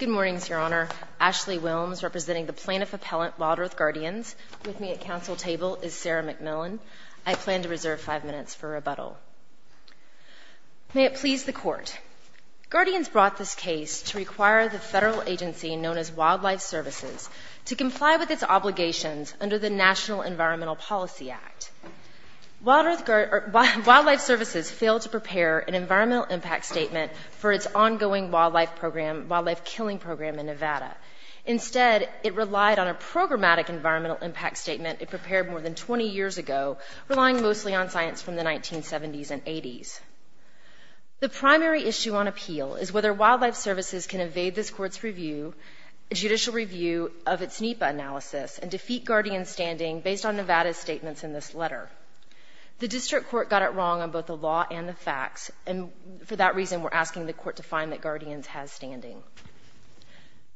Good morning, Your Honor. Ashley Wilmes, representing the plaintiff-appellant WildEarth Guardians. With me at council table is Sarah McMillan. I plan to reserve five minutes for rebuttal. May it please the Court. Guardians brought this case to require the federal agency known as Wildlife Services to comply with its obligations under the National Environmental Policy Act. Wildlife Services failed to prepare an environmental impact statement for its ongoing wildlife program, wildlife killing program in Nevada. Instead, it relied on a programmatic environmental impact statement it prepared more than 20 years ago, relying mostly on science from the 1970s and 80s. The primary issue on appeal is whether Wildlife Services can evade this Court's judicial review of its NEPA analysis and defeat Guardians' standing based on Nevada's statements in this letter. The District Court got it wrong on both the law and the facts, and for that reason we're asking the Court to find that Guardians has standing.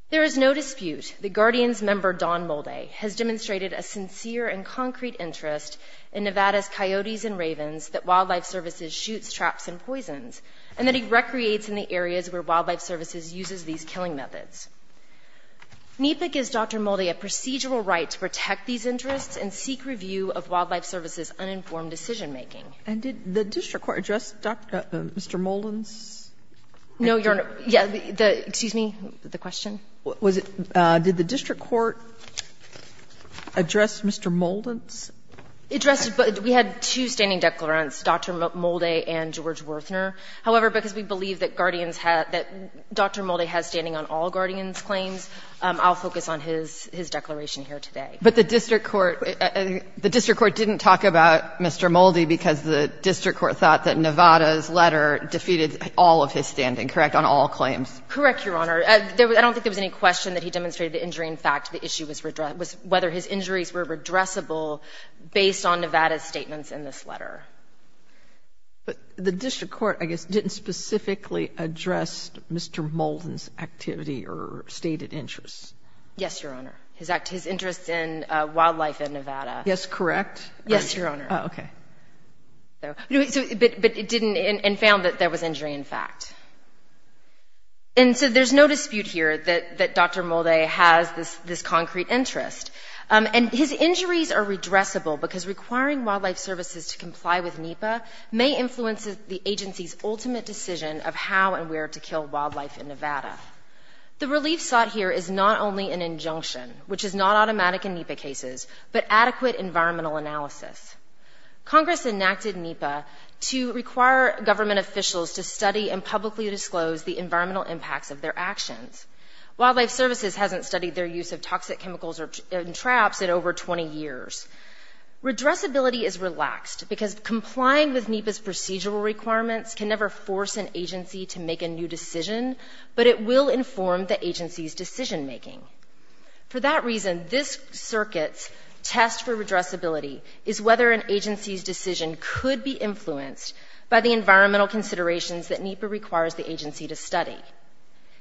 There is no dispute that Guardians member Don Molde has demonstrated a sincere and concrete interest in Nevada's coyotes and ravens that Wildlife Services shoots, traps, and poisons, and that he recreates in the areas where Wildlife Services uses these killing methods. NEPA gives Dr. Molde a procedural right to protect these interests and seek review of Wildlife Services' uninformed decision-making. And did the District Court address Mr. Molden's? No, Your Honor. Yeah, the — excuse me, the question? Was it — did the District Court address Mr. Molden's? It addressed — we had two standing declarants, Dr. Molde and George Werthner. However, because we believe that Guardians had — that Dr. Molde has standing on all Guardians' claims, I'll focus on his declaration here today. But the District Court — the District Court didn't talk about Mr. Molde because the District Court thought that Nevada's letter defeated all of his standing, correct, on all claims? Correct, Your Honor. I don't think there was any question that he demonstrated the injury. In fact, the issue was whether his injuries were redressable based on Nevada's statements in this letter. But the District Court, I guess, didn't specifically address Mr. Molden's activity or stated interests. Yes, Your Honor. His interests in wildlife in Nevada. Yes, correct? Yes, Your Honor. Oh, okay. But it didn't — and found that there was injury, in fact. And so there's no dispute here that Dr. Molde has this concrete interest. And his injuries are redressable because requiring wildlife services to comply with NEPA may influence the agency's ultimate decision of how and where to kill wildlife in Nevada. The relief sought here is not only an injunction, which is not automatic in NEPA cases, but adequate environmental analysis. Congress enacted NEPA to require government officials to study and publicly disclose the environmental impacts of their actions. Wildlife services hasn't studied their use of toxic chemicals in traps in over 20 years. Redressability is relaxed because complying with NEPA's procedural requirements can never force an agency to make a new decision, but it will inform the agency's decision-making. For that reason, this circuit's test for redressability is whether an agency's decision could be influenced by the environmental considerations that NEPA requires the agency to study.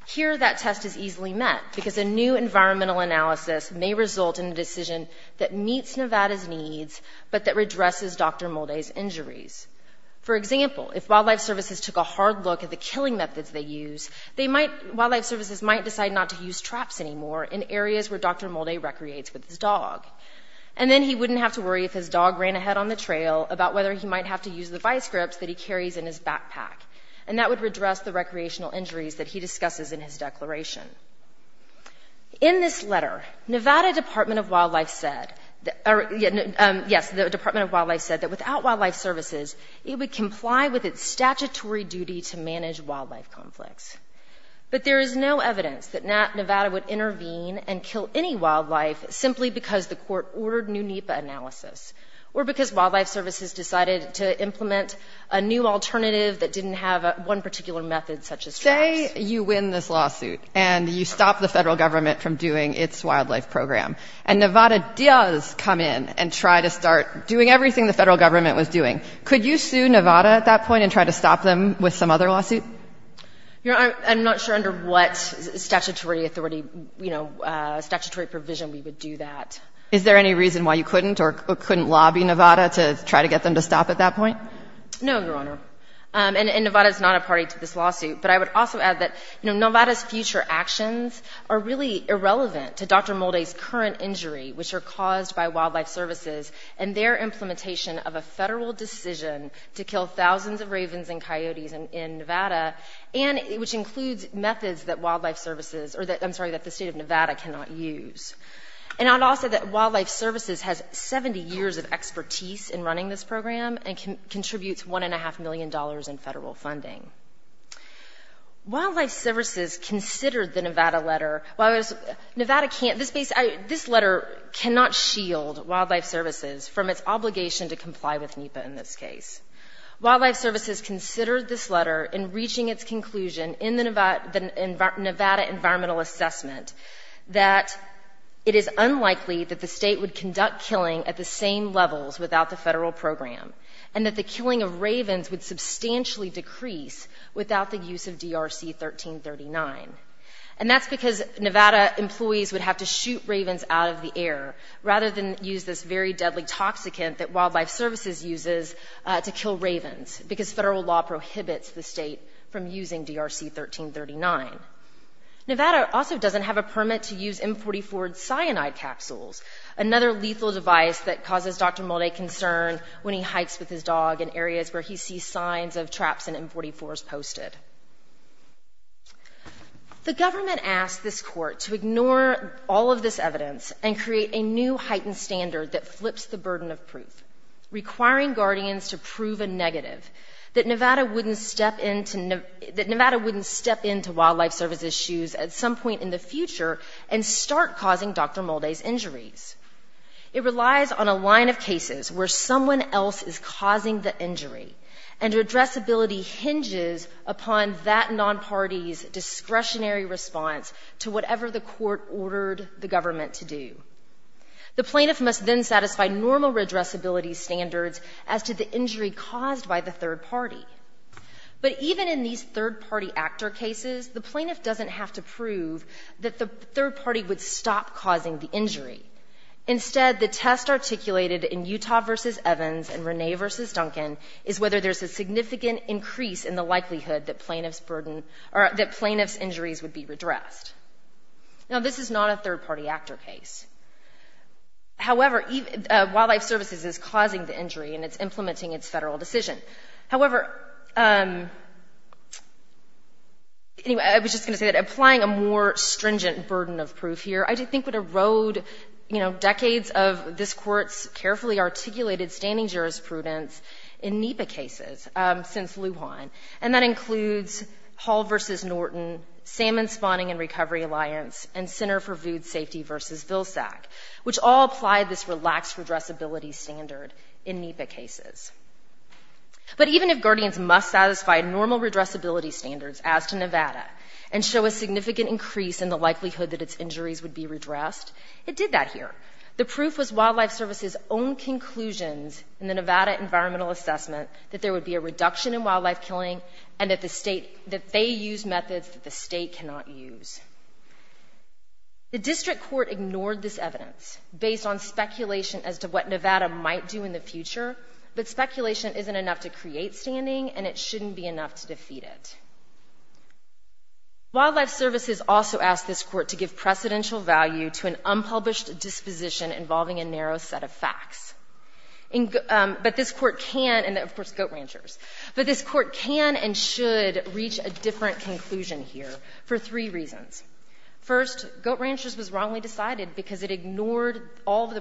Here, that test is easily met because a new environmental analysis may result in a decision that meets Nevada's needs but that redresses Dr. Molde's injuries. For example, if wildlife services took a hard look at the killing methods they use, wildlife services might decide not to use traps anymore in areas where Dr. Molde recreates with his dog. And then he wouldn't have to worry if his dog ran ahead on the trail about whether he might have to use the vice grips that he carries in his backpack. And that would redress the recreational injuries that he discusses in his declaration. In this letter, Nevada Department of Wildlife said that without wildlife services, it would comply with its statutory duty to manage wildlife conflicts. But there is no evidence that Nevada would intervene and kill any wildlife simply because the court ordered new NEPA analysis, or because wildlife services decided to implement a new alternative that didn't have one particular method such as traps. Say you win this lawsuit and you stop the federal government from doing its wildlife program and Nevada does come in and try to start doing everything the federal government was doing. Could you sue Nevada at that point and try to stop them with some other lawsuit? I'm not sure under what statutory authority, you know, statutory provision we would do that. Is there any reason why you couldn't or couldn't lobby Nevada to try to get them to stop at that point? No, Your Honor. And Nevada is not a party to this lawsuit. But I would also add that, you know, Nevada's future actions are really irrelevant to Dr. Molde's current injury, which are caused by wildlife services and their implementation of a federal decision to kill thousands of ravens and coyotes in Nevada, and which includes methods that wildlife services, or that, I'm sorry, that the State of Nevada cannot use. And I'd also add that wildlife services has 70 years of expertise in running this program and contributes $1.5 million in federal funding. Wildlife services considered the Nevada letter. Nevada can't, this letter cannot shield wildlife services from its obligation to comply with NEPA in this case. Wildlife services considered this letter in reaching its conclusion in the Nevada environmental assessment that it is unlikely that the state would conduct killing at the same levels without the federal program and that the killing of ravens would substantially decrease without the use of DRC-1339. And that's because Nevada employees would have to shoot ravens out of the air rather than use this very deadly toxicant that wildlife services uses to kill ravens because federal law prohibits the state from using DRC-1339. Nevada also doesn't have a permit to use M44 cyanide capsules, another lethal device that causes Dr. Molde concern when he hikes with his dog in areas where he sees signs of traps and M44s posted. The government asked this court to ignore all of this evidence and create a new heightened standard that flips the burden of proof, requiring guardians to prove a negative, that Nevada wouldn't step into wildlife services' shoes at some point in the future and start causing Dr. Molde's injuries. It relies on a line of cases where someone else is causing the injury and redressability hinges upon that non-party's discretionary response to whatever the court ordered the government to do. The plaintiff must then satisfy normal redressability standards as to the injury caused by the third party. But even in these third-party actor cases, the plaintiff doesn't have to prove that the third party would stop causing the injury. Instead, the test articulated in Utah v. Evans and Rene v. Duncan is whether there's a significant increase in the likelihood that plaintiff's injuries would be redressed. Now, this is not a third-party actor case. However, wildlife services is causing the injury and it's implementing its federal decision. However, anyway, I was just going to say that applying a more stringent burden of proof here, I think, would erode decades of this court's carefully articulated standing jurisprudence in NEPA cases since Lujan, and that includes Hall v. Norton, Salmon Spawning and Recovery Alliance, and Center for Food Safety v. Vilsack, which all apply this relaxed redressability standard in NEPA cases. But even if guardians must satisfy normal redressability standards as to Nevada and show a significant increase in the likelihood that its injuries would be redressed, it did that here. The proof was wildlife services' own conclusions in the Nevada environmental assessment that there would be a reduction in wildlife killing and that they use methods that the state cannot use. The district court ignored this evidence based on speculation as to what Nevada might do in the future, but speculation isn't enough to create standing and it shouldn't be enough to defeat it. Wildlife services also asked this court to give precedential value to an unpublished disposition involving a narrow set of facts. But this court can, and of course Goat Ranchers, but this court can and should reach a different conclusion here for three reasons. First, Goat Ranchers was wrongly decided because it ignored all of the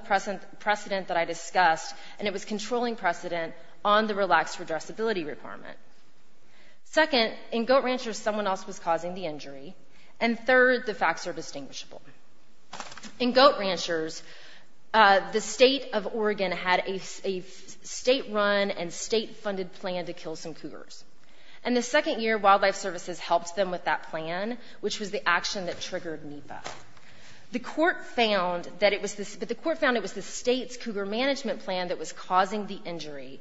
precedent that I discussed and it was controlling precedent on the relaxed redressability requirement. Second, in Goat Ranchers someone else was causing the injury. And third, the facts are distinguishable. In Goat Ranchers, the state of Oregon had a state-run and state-funded plan to kill some cougars. And the second year, wildlife services helped them with that plan, which was the action that triggered NEPA. The court found that it was the state's cougar management plan that was causing the injury,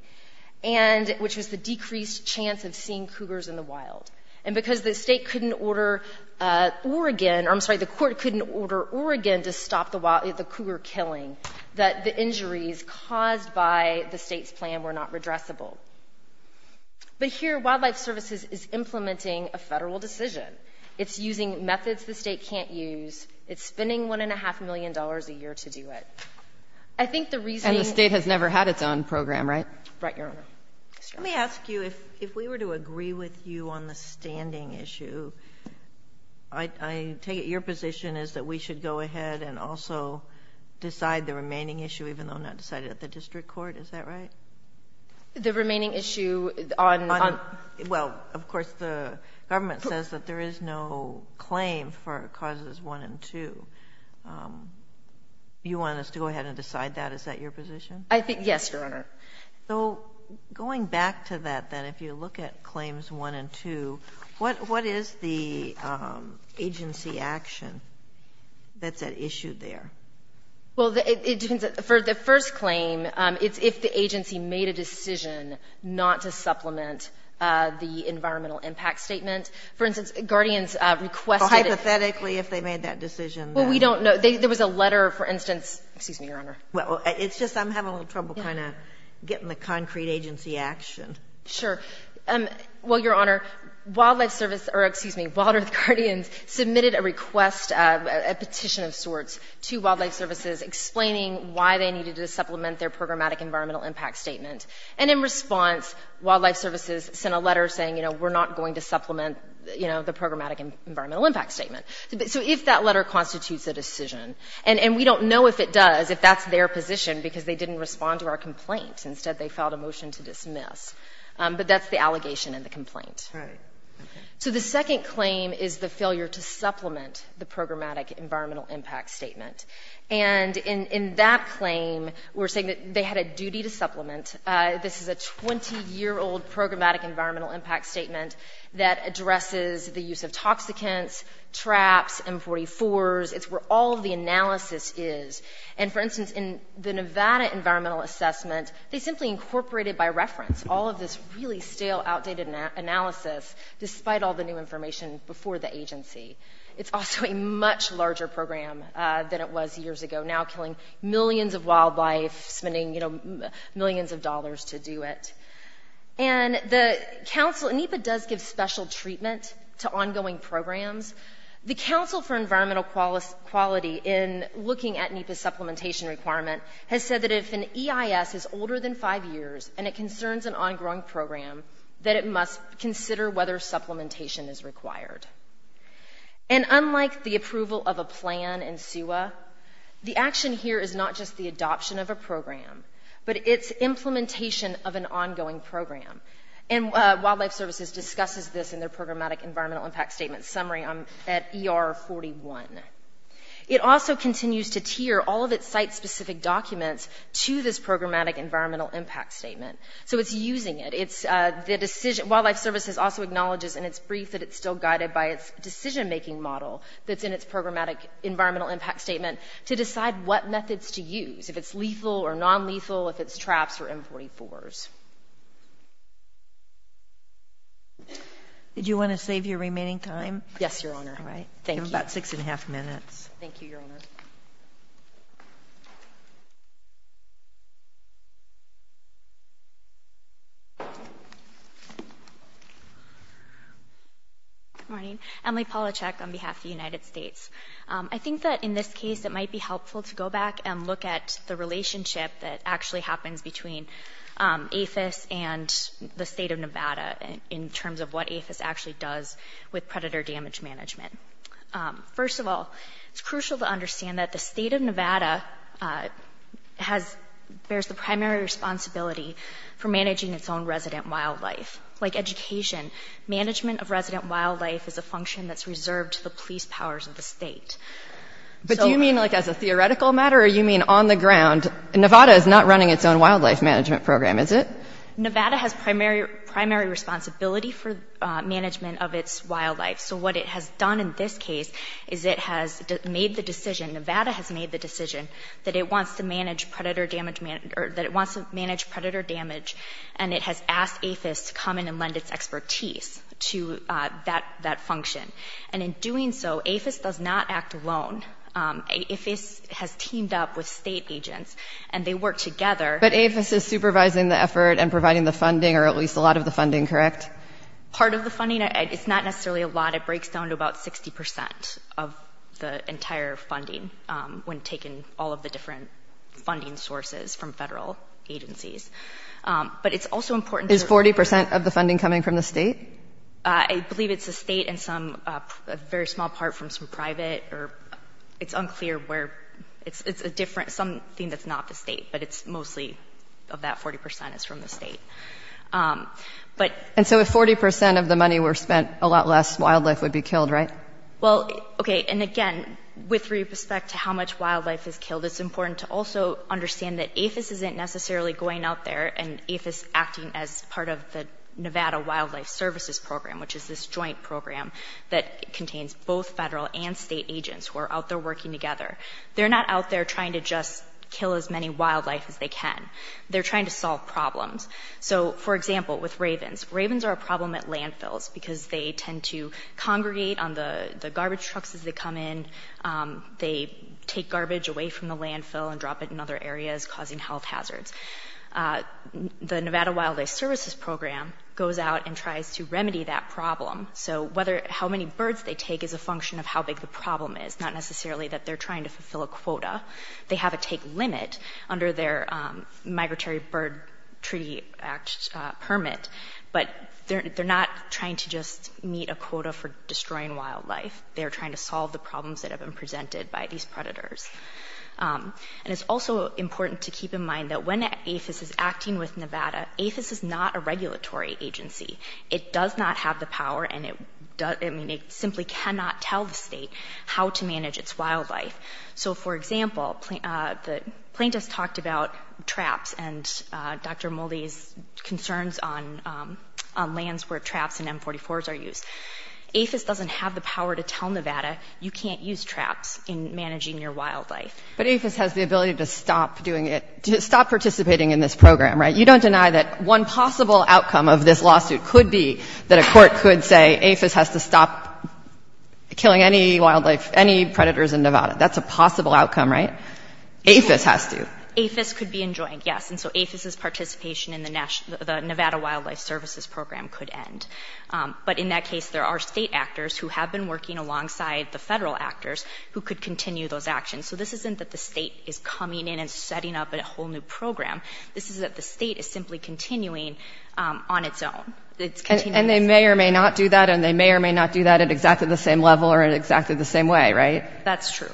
which was the decreased chance of seeing cougars in the wild. And because the state couldn't order Oregon, or I'm sorry, the court couldn't order Oregon to stop the cougar killing, that the injuries caused by the state's plan were not redressable. But here, wildlife services is implementing a Federal decision. It's using methods the state can't use. It's spending $1.5 million a year to do it. I think the reasoning... And the state has never had its own program, right? Right, Your Honor. Let me ask you, if we were to agree with you on the standing issue, I take it your position is that we should go ahead and also decide the remaining issue, even though not decided at the district court? Is that right? The remaining issue on... Well, of course, the government says that there is no claim for causes 1 and 2. You want us to go ahead and decide that? Is that your position? Yes, Your Honor. So going back to that, then, if you look at claims 1 and 2, what is the agency action that's at issue there? Well, for the first claim, it's if the agency made a decision not to supplement the environmental impact statement. For instance, Guardians requested... Well, hypothetically, if they made that decision... Well, we don't know. There was a letter, for instance... Excuse me, Your Honor. It's just I'm having a little trouble kind of getting the concrete agency action. Sure. Well, Your Honor, Wildlife Service or, excuse me, Wild Earth Guardians submitted a request, a petition of sorts, to Wildlife Services explaining why they needed to supplement their programmatic environmental impact statement. And in response, Wildlife Services sent a letter saying, you know, we're not going to supplement, you know, the programmatic environmental impact statement. So if that letter constitutes a decision, and we don't know if it does, if that's their position, because they didn't respond to our complaint. Instead, they filed a motion to dismiss. But that's the allegation in the complaint. Right. So the second claim is the failure to supplement the programmatic environmental impact statement. And in that claim, we're saying that they had a duty to supplement. This is a 20-year-old programmatic environmental impact statement that addresses the use of toxicants, traps, M44s. It's where all of the analysis is. And, for instance, in the Nevada environmental assessment, they simply incorporated by reference all of this really stale, outdated analysis, despite all the new information before the agency. It's also a much larger program than it was years ago, now killing millions of wildlife, spending, you know, millions of dollars to do it. And the council... NEPA does give special treatment to ongoing programs. The Council for Environmental Quality, in looking at NEPA's supplementation requirement, has said that if an EIS is older than five years and it concerns an ongoing program, that it must consider whether supplementation is required. And unlike the approval of a plan in SUA, the action here is not just the adoption of a program, but its implementation of an ongoing program. And Wildlife Services discusses this in their programmatic environmental impact statement summary at ER 41. It also continues to tier all of its site-specific documents to this programmatic environmental impact statement. So it's using it. Wildlife Services also acknowledges in its brief that it's still guided by its decision-making model that's in its programmatic environmental impact statement to decide what methods to use, if it's lethal or non-lethal, if it's TRAPS or M44s. Did you want to save your remaining time? Yes, Your Honor. I have about six and a half minutes. Thank you, Your Honor. Good morning. Emily Polachek on behalf of the United States. I think that in this case it might be helpful to go back and look at the relationship that actually happens between APHIS and the state of Nevada in terms of what APHIS actually does with predator damage management. First of all, it's crucial to understand that the state of Nevada bears the primary responsibility for managing its own resident wildlife. Like education, management of resident wildlife is a function that's reserved to the police powers of the state. But do you mean like as a theoretical matter or do you mean on the ground? Nevada is not running its own wildlife management program, is it? Nevada has primary responsibility for management of its wildlife. So what it has done in this case is it has made the decision, Nevada has made the decision, that it wants to manage predator damage and it has asked APHIS to come in and lend its expertise to that function. And in doing so, APHIS does not act alone. APHIS has teamed up with state agents and they work together. But APHIS is supervising the effort and providing the funding or at least a lot of the funding, correct? Part of the funding, it's not necessarily a lot. It breaks down to about 60% of the entire funding when taking all of the different funding sources from federal agencies. But it's also important... Is 40% of the funding coming from the state? I believe it's the state and some, a very small part from some private. It's unclear where. It's a different, something that's not the state, but it's mostly of that 40% is from the state. And so if 40% of the money were spent, a lot less wildlife would be killed, right? Well, okay, and again, with respect to how much wildlife is killed, it's important to also understand that APHIS isn't necessarily going out there and APHIS acting as part of the Nevada Wildlife Services Program, which is this joint program that contains both federal and state agents who are out there working together. They're not out there trying to just kill as many wildlife as they can. They're trying to solve problems. So, for example, with ravens. Ravens are a problem at landfills because they tend to congregate on the garbage trucks as they come in. They take garbage away from the landfill and drop it in other areas, causing health hazards. The Nevada Wildlife Services Program goes out and tries to remedy that problem. So how many birds they take is a function of how big the problem is, not necessarily that they're trying to fulfill a quota. They have a take limit under their Migratory Bird Treaty Act permit, but they're not trying to just meet a quota for destroying wildlife. They're trying to solve the problems that have been presented by these predators. And it's also important to keep in mind that when APHIS is acting with Nevada, APHIS is not a regulatory agency. It does not have the power, and it simply cannot tell the state how to manage its wildlife. So, for example, the plaintiffs talked about traps and Dr. Moldy's concerns on lands where traps and M44s are used. APHIS doesn't have the power to tell Nevada, you can't use traps in managing your wildlife. But APHIS has the ability to stop doing it, to stop participating in this program, right? You don't deny that one possible outcome of this lawsuit could be that a court could say stop killing any predators in Nevada. That's a possible outcome, right? APHIS has to. APHIS could be enjoined, yes. And so APHIS's participation in the Nevada Wildlife Services Program could end. But in that case, there are state actors who have been working alongside the federal actors who could continue those actions. So this isn't that the state is coming in and setting up a whole new program. This is that the state is simply continuing on its own. And they may or may not do that, and they may or may not do that at exactly the same level or in exactly the same way, right? That's true.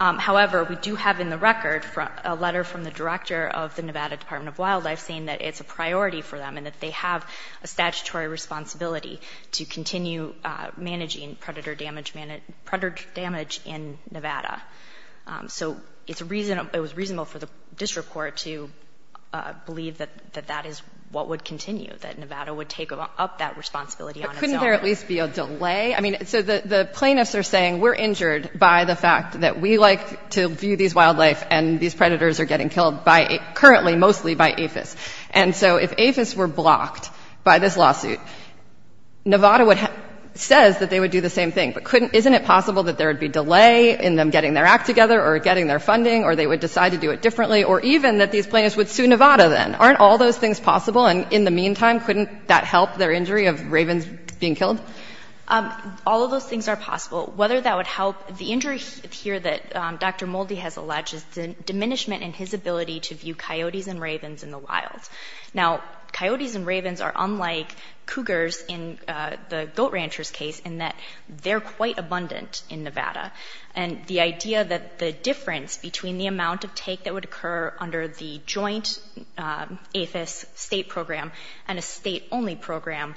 However, we do have in the record a letter from the director of the Nevada Department of Wildlife saying that it's a priority for them and that they have a statutory responsibility to continue managing predator damage in Nevada. So it was reasonable for the district court to believe that that is what would continue, that Nevada would take up that responsibility on its own. But couldn't there at least be a delay? I mean, so the plaintiffs are saying, we're injured by the fact that we like to view these wildlife and these predators are getting killed currently mostly by APHIS. And so if APHIS were blocked by this lawsuit, Nevada says that they would do the same thing. But isn't it possible that there would be delay in them getting their act together or getting their funding or they would decide to do it differently or even that these plaintiffs would sue Nevada then? Aren't all those things possible? And in the meantime, couldn't that help their injury of ravens being killed? All of those things are possible. Whether that would help the injury here that Dr. Moldy has alleged is the diminishment in his ability to view coyotes and ravens in the wild. Now, coyotes and ravens are unlike cougars in the goat ranchers' case in that they're quite abundant in Nevada. And the idea that the difference between the amount of take that would occur under the joint APHIS state program and a state-only program,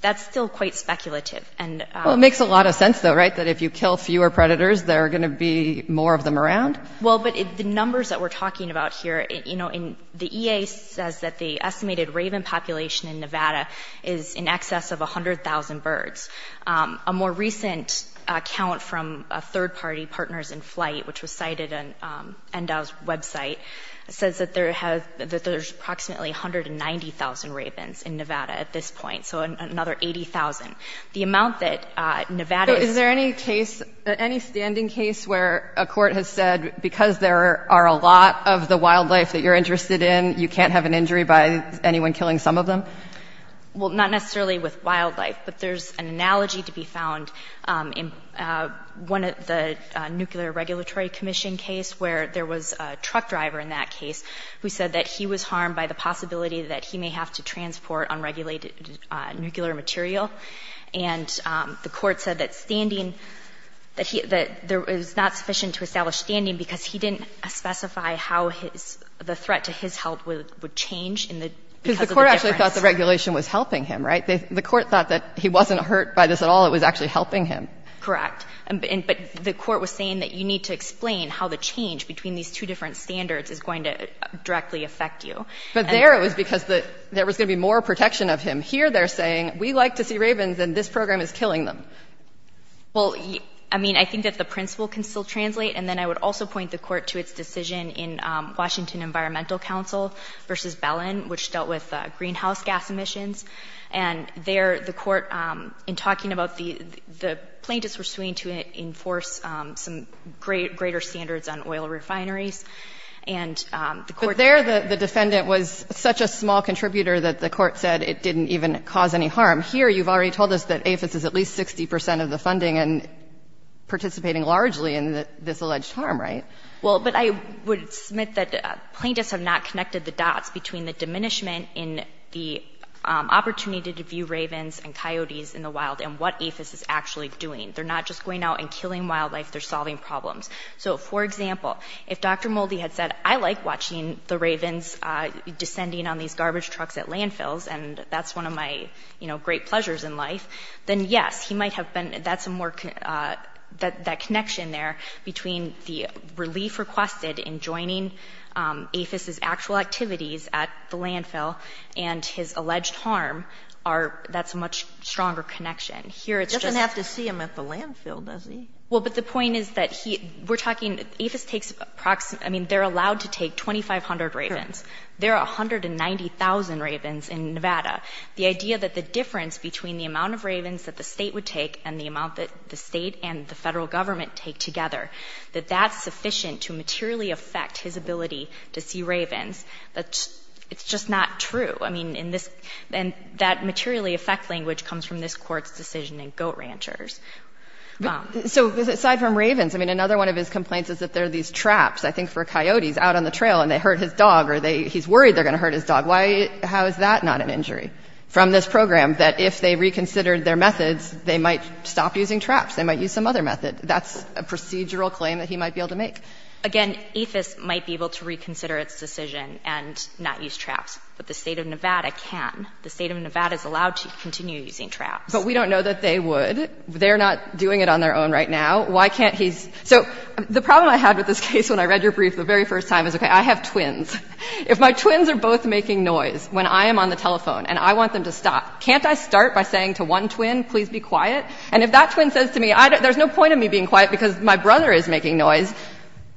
that's still quite speculative. Well, it makes a lot of sense, though, right? That if you kill fewer predators, there are going to be more of them around? Well, but the numbers that we're talking about here, you know, the EA says that the estimated raven population in Nevada is in excess of 100,000 birds. A more recent count from a third-party, Partners in Flight, which was cited on NDAL's website, says that there's approximately 190,000 ravens in Nevada at this point, so another 80,000. The amount that Nevada... Is there any case, any standing case where a court has said, because there are a lot of the wildlife that you're interested in, you can't have an injury by anyone killing some of them? Well, not necessarily with wildlife, but there's an analogy to be found in one of the Nuclear Regulatory Commission case where there was a truck driver in that case who said that he was harmed by the possibility that he may have to transport unregulated nuclear material, and the court said that standing... That it was not sufficient to establish standing because he didn't specify how the threat to his health would change because of the difference. Because the court actually thought the regulation was helping him, right? The court thought that he wasn't hurt by this at all, it was actually helping him. Correct. But the court was saying that you need to explain how the change between these two different standards is going to directly affect you. But there it was because there was going to be more protection of him. Here they're saying, we like to see ravens, and this program is killing them. Well, I mean, I think that the principle can still translate, and then I would also point the court to its decision in Washington Environmental Council versus Bellin, which dealt with greenhouse gas emissions, and there the court, in talking about the plaintiffs were suing to enforce some greater standards on oil refineries, and the court... But there the defendant was such a small contributor that the court said it didn't even cause any harm. Here you've already told us that AFIS is at least 60 percent of the funding and participating largely in this alleged harm, right? Well, but I would submit that plaintiffs have not connected the dots between the diminishment in the opportunity to view ravens and coyotes in the wild and what AFIS is actually doing. They're not just going out and killing wildlife, they're solving problems. So, for example, if Dr. Moldy had said, I like watching the ravens descending on these garbage trucks at landfills, and that's one of my great pleasures in life, then yes, he might have been... That's a more... That connection there between the relief requested in joining AFIS's actual activities at the landfill and his alleged harm are... That's a much stronger connection. Here it's just... He doesn't have to see them at the landfill, does he? Well, but the point is that he... We're talking... AFIS takes approximately... I mean, they're allowed to take 2,500 ravens. There are 190,000 ravens in Nevada. The idea that the difference between the amount of ravens that the state would take and the amount that the state and the federal government take together, that that's sufficient to materially affect his ability to see ravens, that's... It's just not true. I mean, in this... And that materially affect language comes from this court's decision in goat ranchers. So aside from ravens, I mean, another one of his complaints is that there are these traps, I think for coyotes, out on the trail, and they hurt his dog, or he's worried they're going to hurt his dog. Why... How is that not an injury from this program that if they reconsidered their methods, they might stop using traps, they might use some other method? That's a procedural claim that he might be able to make. Again, AFIS might be able to reconsider its decision, and not use traps. But the State of Nevada can. The State of Nevada is allowed to continue using traps. But we don't know that they would. They're not doing it on their own right now. Why can't he... So the problem I had with this case when I read your brief the very first time is, okay, I have twins. If my twins are both making noise when I am on the telephone and I want them to stop, can't I start by saying to one twin, please be quiet? And if that twin says to me, there's no point in me being quiet because my brother is making noise,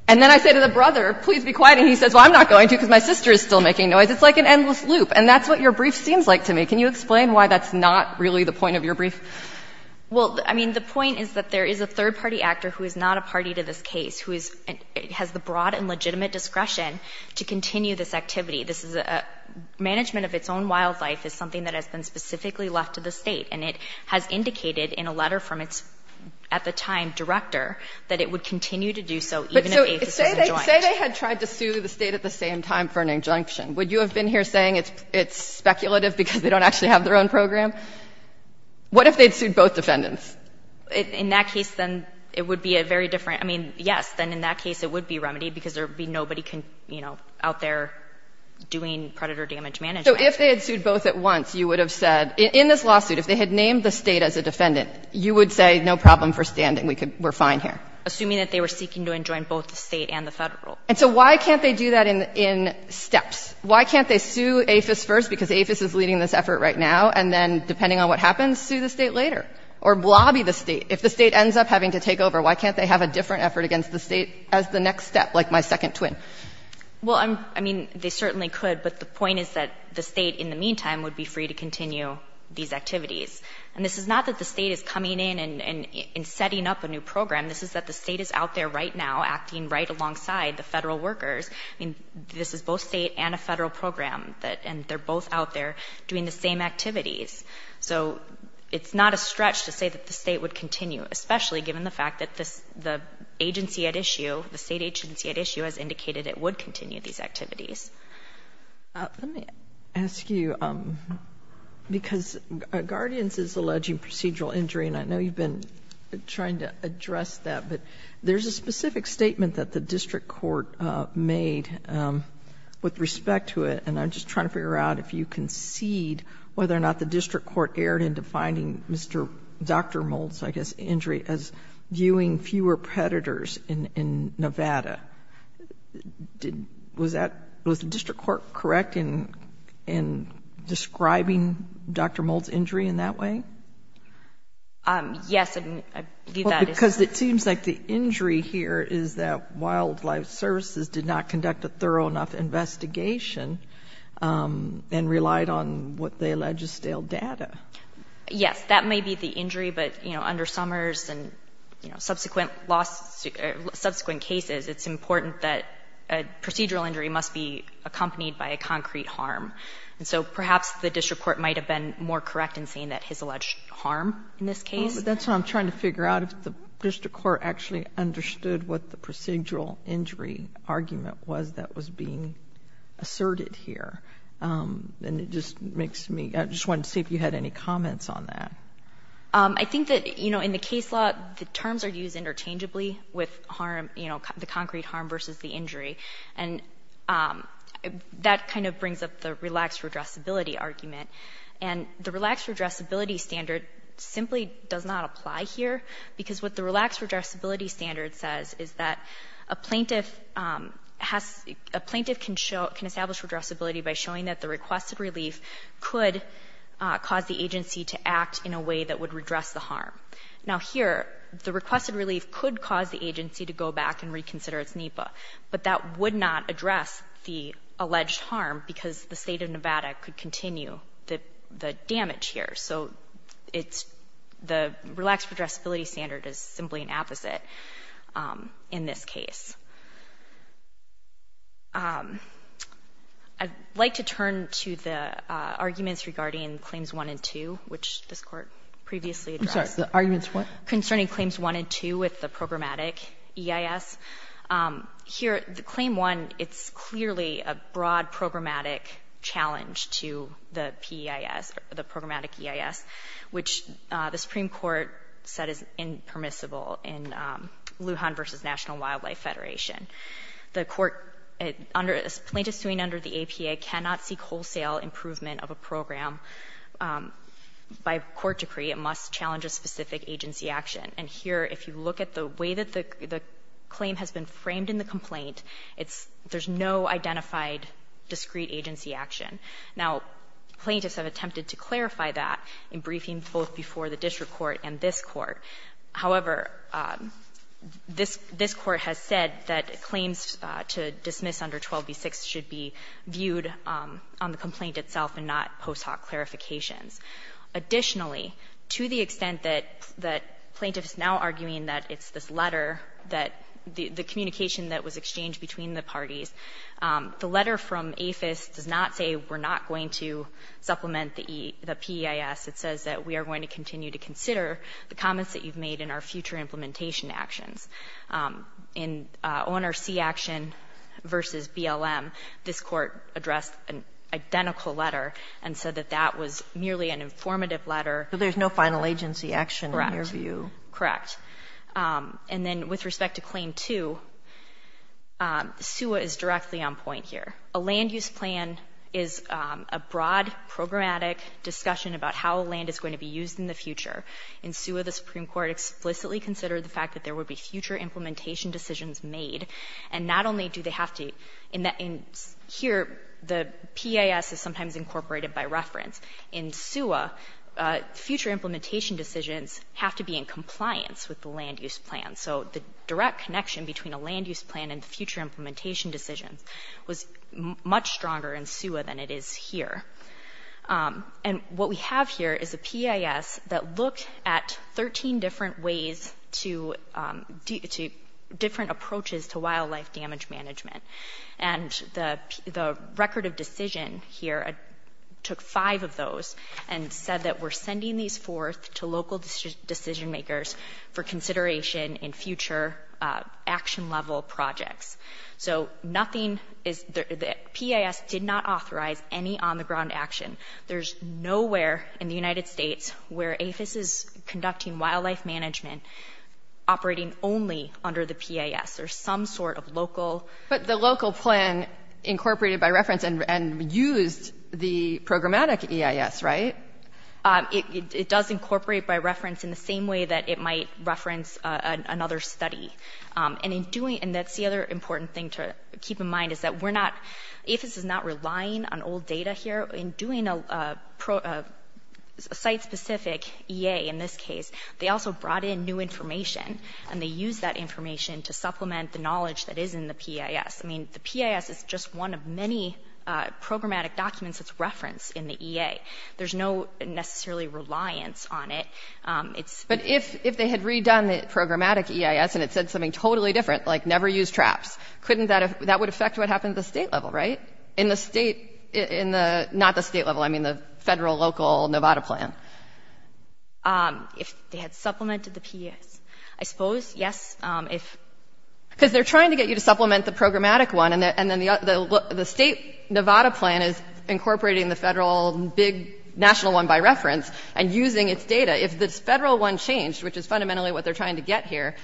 and then I say to the brother, please be quiet, and he says, well, I'm not going to because my sister is still making noise. It's like an endless loop. And that's what your brief seems like to me. Can you explain why that's not really the point of your brief? Well, I mean, the point is that there is a third-party actor who is not a party to this case who has the broad and legitimate discretion to continue this activity. This is a management of its own wildlife is something that has been specifically left to the State. And it has indicated in a letter from its, at the time, director, that it would continue to do so even if AFIS wasn't joined. Say they had tried to sue the State at the same time for an injunction. Would you have been here saying it's speculative because they don't actually have their own program? What if they'd sued both defendants? In that case, then it would be a very different, I mean, yes, then in that case it would be remedied because there would be nobody out there doing predator damage management. So if they had sued both at once, you would have said, in this lawsuit, if they had named the State as a defendant, you would say no problem for standing, we're fine here. Assuming that they were seeking to enjoin both the State and the Federal. And so why can't they do that in steps? Why can't they sue AFIS first because AFIS is leading this effort right now and then, depending on what happens, sue the State later? Or lobby the State? If the State ends up having to take over, why can't they have a different effort against the State as the next step, like my second twin? Well, I mean, they certainly could, but the point is that the State, in the meantime, would be free to continue these activities. And this is not that the State is coming in and setting up a new program. This is that the State is out there right now, acting right alongside the Federal workers. I mean, this is both State and a Federal program, and they're both out there doing the same activities. So it's not a stretch to say that the State would continue, especially given the fact that the agency at issue, the State agency at issue, has indicated it would continue these activities. Let me ask you, because Guardians is alleging procedural injury, and I know you've been trying to address that, but there's a specific statement that the district court made with respect to it, and I'm just trying to figure out if you concede whether or not the district court erred into finding Dr. Mould's, I guess, injury as viewing fewer predators in Nevada. Was the district court correct in describing Dr. Mould's injury in that way? Yes, and I believe that is true. Well, because it seems like the injury here is that Wildlife Services did not conduct a thorough enough investigation and relied on what they allege is stale data. Yes, that may be the injury, but, you know, under Summers and, you know, subsequent cases, it's important that a procedural injury must be accompanied by a concrete harm. And so perhaps the district court might have been more correct in saying that his alleged harm in this case. But that's what I'm trying to figure out, if the district court actually understood what the procedural injury argument was that was being asserted here. And it just makes me... I just wanted to see if you had any comments on that. I think that, you know, in the case law, the terms are used interchangeably with harm, you know, the concrete harm versus the injury, and that kind of brings up the relaxed redressability argument. And the relaxed redressability standard simply does not apply here, because what the relaxed redressability standard says is that a plaintiff can establish redressability by showing that the requested relief could cause the agency to act in a way that would redress the harm. Now, here, the requested relief could cause the agency to go back and reconsider its NEPA, but that would not address the alleged harm because the State of Nevada could continue the damage here. So it's the relaxed redressability standard is simply an opposite in this case. I'd like to turn to the arguments regarding Claims 1 and 2, which this Court previously addressed. I'm sorry, the arguments what? Concerning Claims 1 and 2 with the programmatic EIS. Here, the Claim 1, it's clearly a broad programmatic challenge to the PEIS, the programmatic EIS, which the Supreme Court said is impermissible in Lujan v. National Wildlife Federation. The plaintiff suing under the APA cannot seek wholesale improvement of a program by court decree. It must challenge a specific agency action. And here, if you look at the way that the claim has been framed in the complaint, there's no identified discrete agency action. Now, plaintiffs have attempted to clarify that in briefing both before the district court and this Court. However, this Court has said that claims to dismiss under 12b-6 should be viewed on the complaint itself and not post hoc clarifications. Additionally, to the extent that plaintiffs now arguing that it's this letter that the communication that was exchanged between the parties, the letter from APHIS does not say we're not going to supplement the PEIS. It says that we are going to continue to consider the comments that you've made in our future implementation actions. In ONRC action v. BLM, this Court addressed an identical letter and said that that was merely an informative letter. So there's no final agency action in your view? Correct. Correct. And then with respect to Claim 2, SUA is directly on point here. A land use plan is a broad programmatic discussion about how land is going to be used in the future. In SUA, the Supreme Court explicitly considered the fact that there would be future implementation decisions made. And not only do they have to — Here, the PEIS is sometimes incorporated by reference. In SUA, future implementation decisions have to be in compliance with the land use plan. So the direct connection between a land use plan and future implementation decisions was much stronger in SUA than it is here. And what we have here is a PEIS that looked at 13 different ways to different approaches to wildlife damage management. And the record of decision here took five of those and said that we're sending these forth to local decision makers for consideration in future action-level projects. So nothing is — the PEIS did not authorize any on-the-ground action. There's nowhere in the United States where APHIS is conducting wildlife management operating only under the PEIS. There's some sort of local — But the local plan incorporated by reference and used the programmatic PEIS, right? It does incorporate by reference in the same way that it might reference another study. And in doing — and that's the other important thing to keep in mind is that we're not — APHIS is not relying on old data here. In doing a site-specific EA in this case, they also brought in new information, and they used that information to supplement the knowledge that is in the PEIS. I mean, the PEIS is just one of many programmatic documents that's referenced in the EA. There's no necessarily reliance on it. It's — But if they had redone the programmatic PEIS and it said something totally different, like never use traps, couldn't that — that would affect what happened at the state level, right? In the state — in the — not the state level, I mean the federal, local, Nevada plan. If they had supplemented the PEIS, I suppose, yes. If — Because they're trying to get you to supplement the programmatic one, and then the state Nevada plan is incorporating the federal big national one by reference and using its data. If this federal one changed, which is fundamentally what they're trying to get here,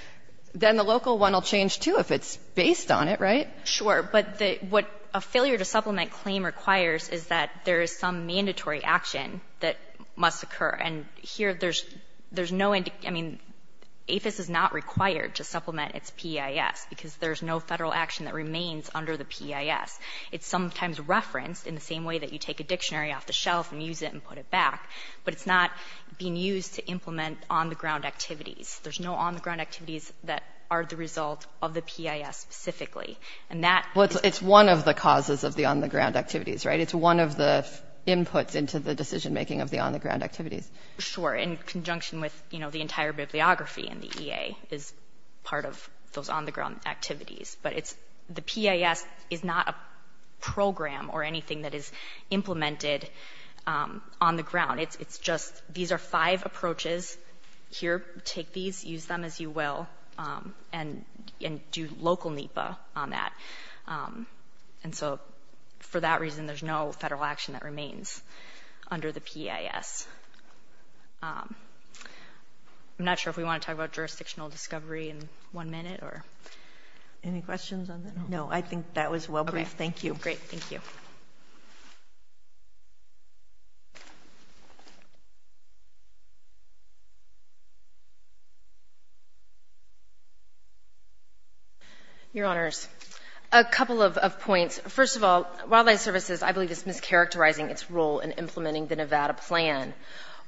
then the local one will change too if it's based on it, right? Sure. But what a failure to supplement claim requires is that there is some mandatory action that must occur. And here there's no — I mean, APHIS is not required to supplement its PEIS because there's no federal action that remains under the PEIS. It's sometimes referenced in the same way that you take a dictionary off the shelf and use it and put it back, but it's not being used to implement on-the-ground activities. There's no on-the-ground activities that are the result of the PEIS specifically. And that — Well, it's one of the causes of the on-the-ground activities, right? It's one of the inputs into the decision-making of the on-the-ground activities. Sure. In conjunction with, you know, the entire bibliography in the EA is part of those on-the-ground activities. But it's — the PEIS is not a program or anything that is implemented on the ground. It's just — these are five approaches. Here, take these, use them as you will, and do local NEPA on that. And so, for that reason, there's no federal action that remains under the PEIS. I'm not sure if we want to talk about jurisdictional discovery in one minute or — Any questions on that? No, I think that was well brief. Thank you. Great. Thank you. Your Honors. A couple of points. First of all, Wildlife Services, I believe, is mischaracterizing its role in implementing the Nevada Plan.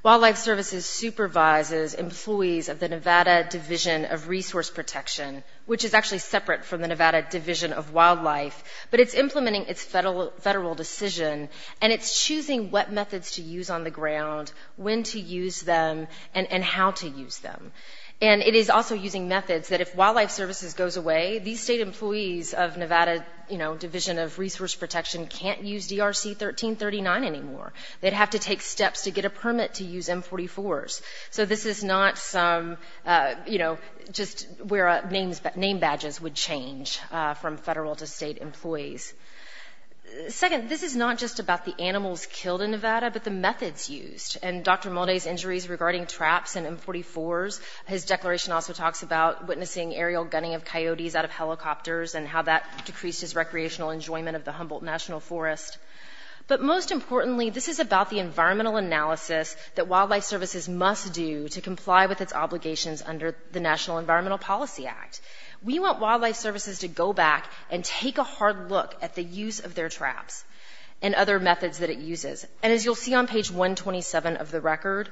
Wildlife Services supervises employees of the Nevada Division of Resource Protection, which is actually separate from the Nevada Division of Wildlife. But it's implementing its federal decision, and it's choosing what methods to use on the ground, when to use them, and how to use them. And it is also using methods that if Wildlife Services goes away, these state employees of Nevada Division of Resource Protection can't use DRC 1339 anymore. They'd have to take steps to get a permit to use M44s. So this is not some — you know, just where name badges would change from federal to state employees. Second, this is not just about the animals killed in Nevada, but the methods used. In Dr. Molde's injuries regarding traps and M44s, his declaration also talks about witnessing aerial gunning of coyotes out of helicopters and how that decreased his recreational enjoyment of the Humboldt National Forest. But most importantly, this is about the environmental analysis that Wildlife Services must do to comply with its obligations under the National Environmental Policy Act. We want Wildlife Services to go back and take a hard look at the use of their traps and other methods that it uses. And as you'll see on page 127 of the record,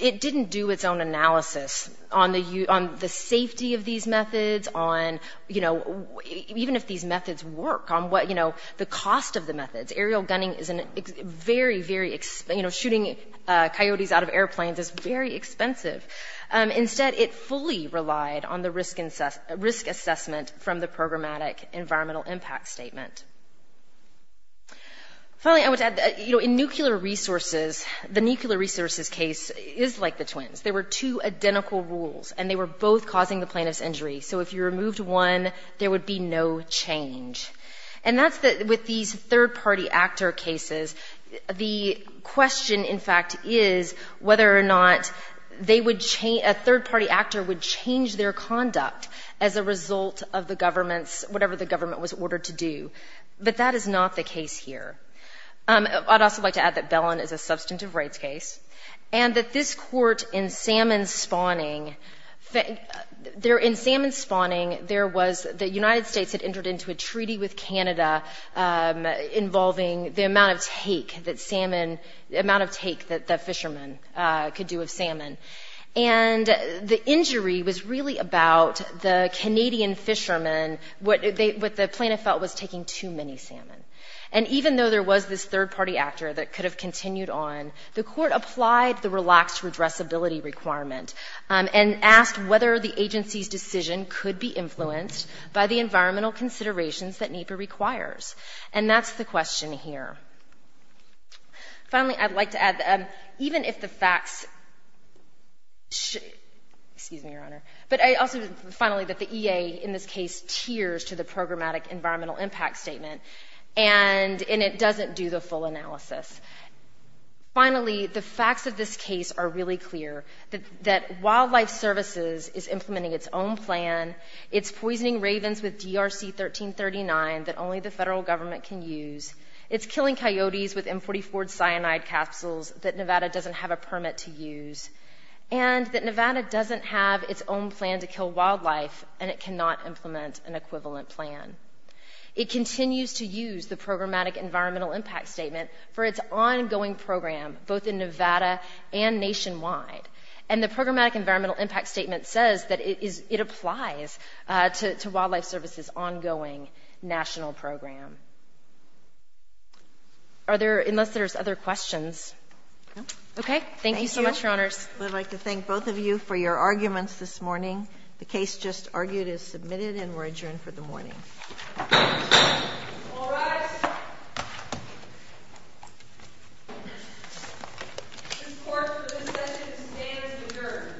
it didn't do its own analysis on the safety of these methods, on, you know, even if these methods work, on what, you know, the cost of the methods. Aerial gunning is a very, very — you know, shooting coyotes out of airplanes is very expensive. Instead, it fully relied on the risk assessment from the Programmatic Environmental Impact Statement. Finally, I would add that, you know, in nuclear resources, the nuclear resources case is like the twins. There were two identical rules, and they were both causing the plaintiff's injury. So if you removed one, there would be no change. And that's the — with these third-party actor cases, the question, in fact, is whether or not they would — a third-party actor would change their conduct as a result of the government's — but that is not the case here. I'd also like to add that Bellin is a substantive rights case and that this court in salmon spawning — there, in salmon spawning, there was — the United States had entered into a treaty with Canada involving the amount of take that salmon — the amount of take that the fishermen could do of salmon. And the injury was really about the Canadian fishermen, what the plaintiff felt was taking too many salmon. And even though there was this third-party actor that could have continued on, the court applied the relaxed redressability requirement and asked whether the agency's decision could be influenced by the environmental considerations that NEPA requires. And that's the question here. Finally, I'd like to add that even if the facts — excuse me, Your Honor — but I also — finally, that the EA in this case tiers to the programmatic environmental impact statement and it doesn't do the full analysis. Finally, the facts of this case are really clear, that Wildlife Services is implementing its own plan, it's poisoning ravens with DRC-1339 that only the federal government can use, it's killing coyotes with M44 cyanide capsules that Nevada doesn't have a permit to use, and that Nevada doesn't have its own plan to kill wildlife and it cannot implement an equivalent plan. It continues to use the programmatic environmental impact statement for its ongoing program, both in Nevada and nationwide. And the programmatic environmental impact statement says that it applies to Wildlife Services' ongoing national program. Are there — unless there's other questions. Okay. Thank you so much, Your Honors. Thank you. I'd like to thank both of you for your arguments this morning. The case just argued is submitted and we're adjourned for the morning. All rise. This court for this session stands adjourned.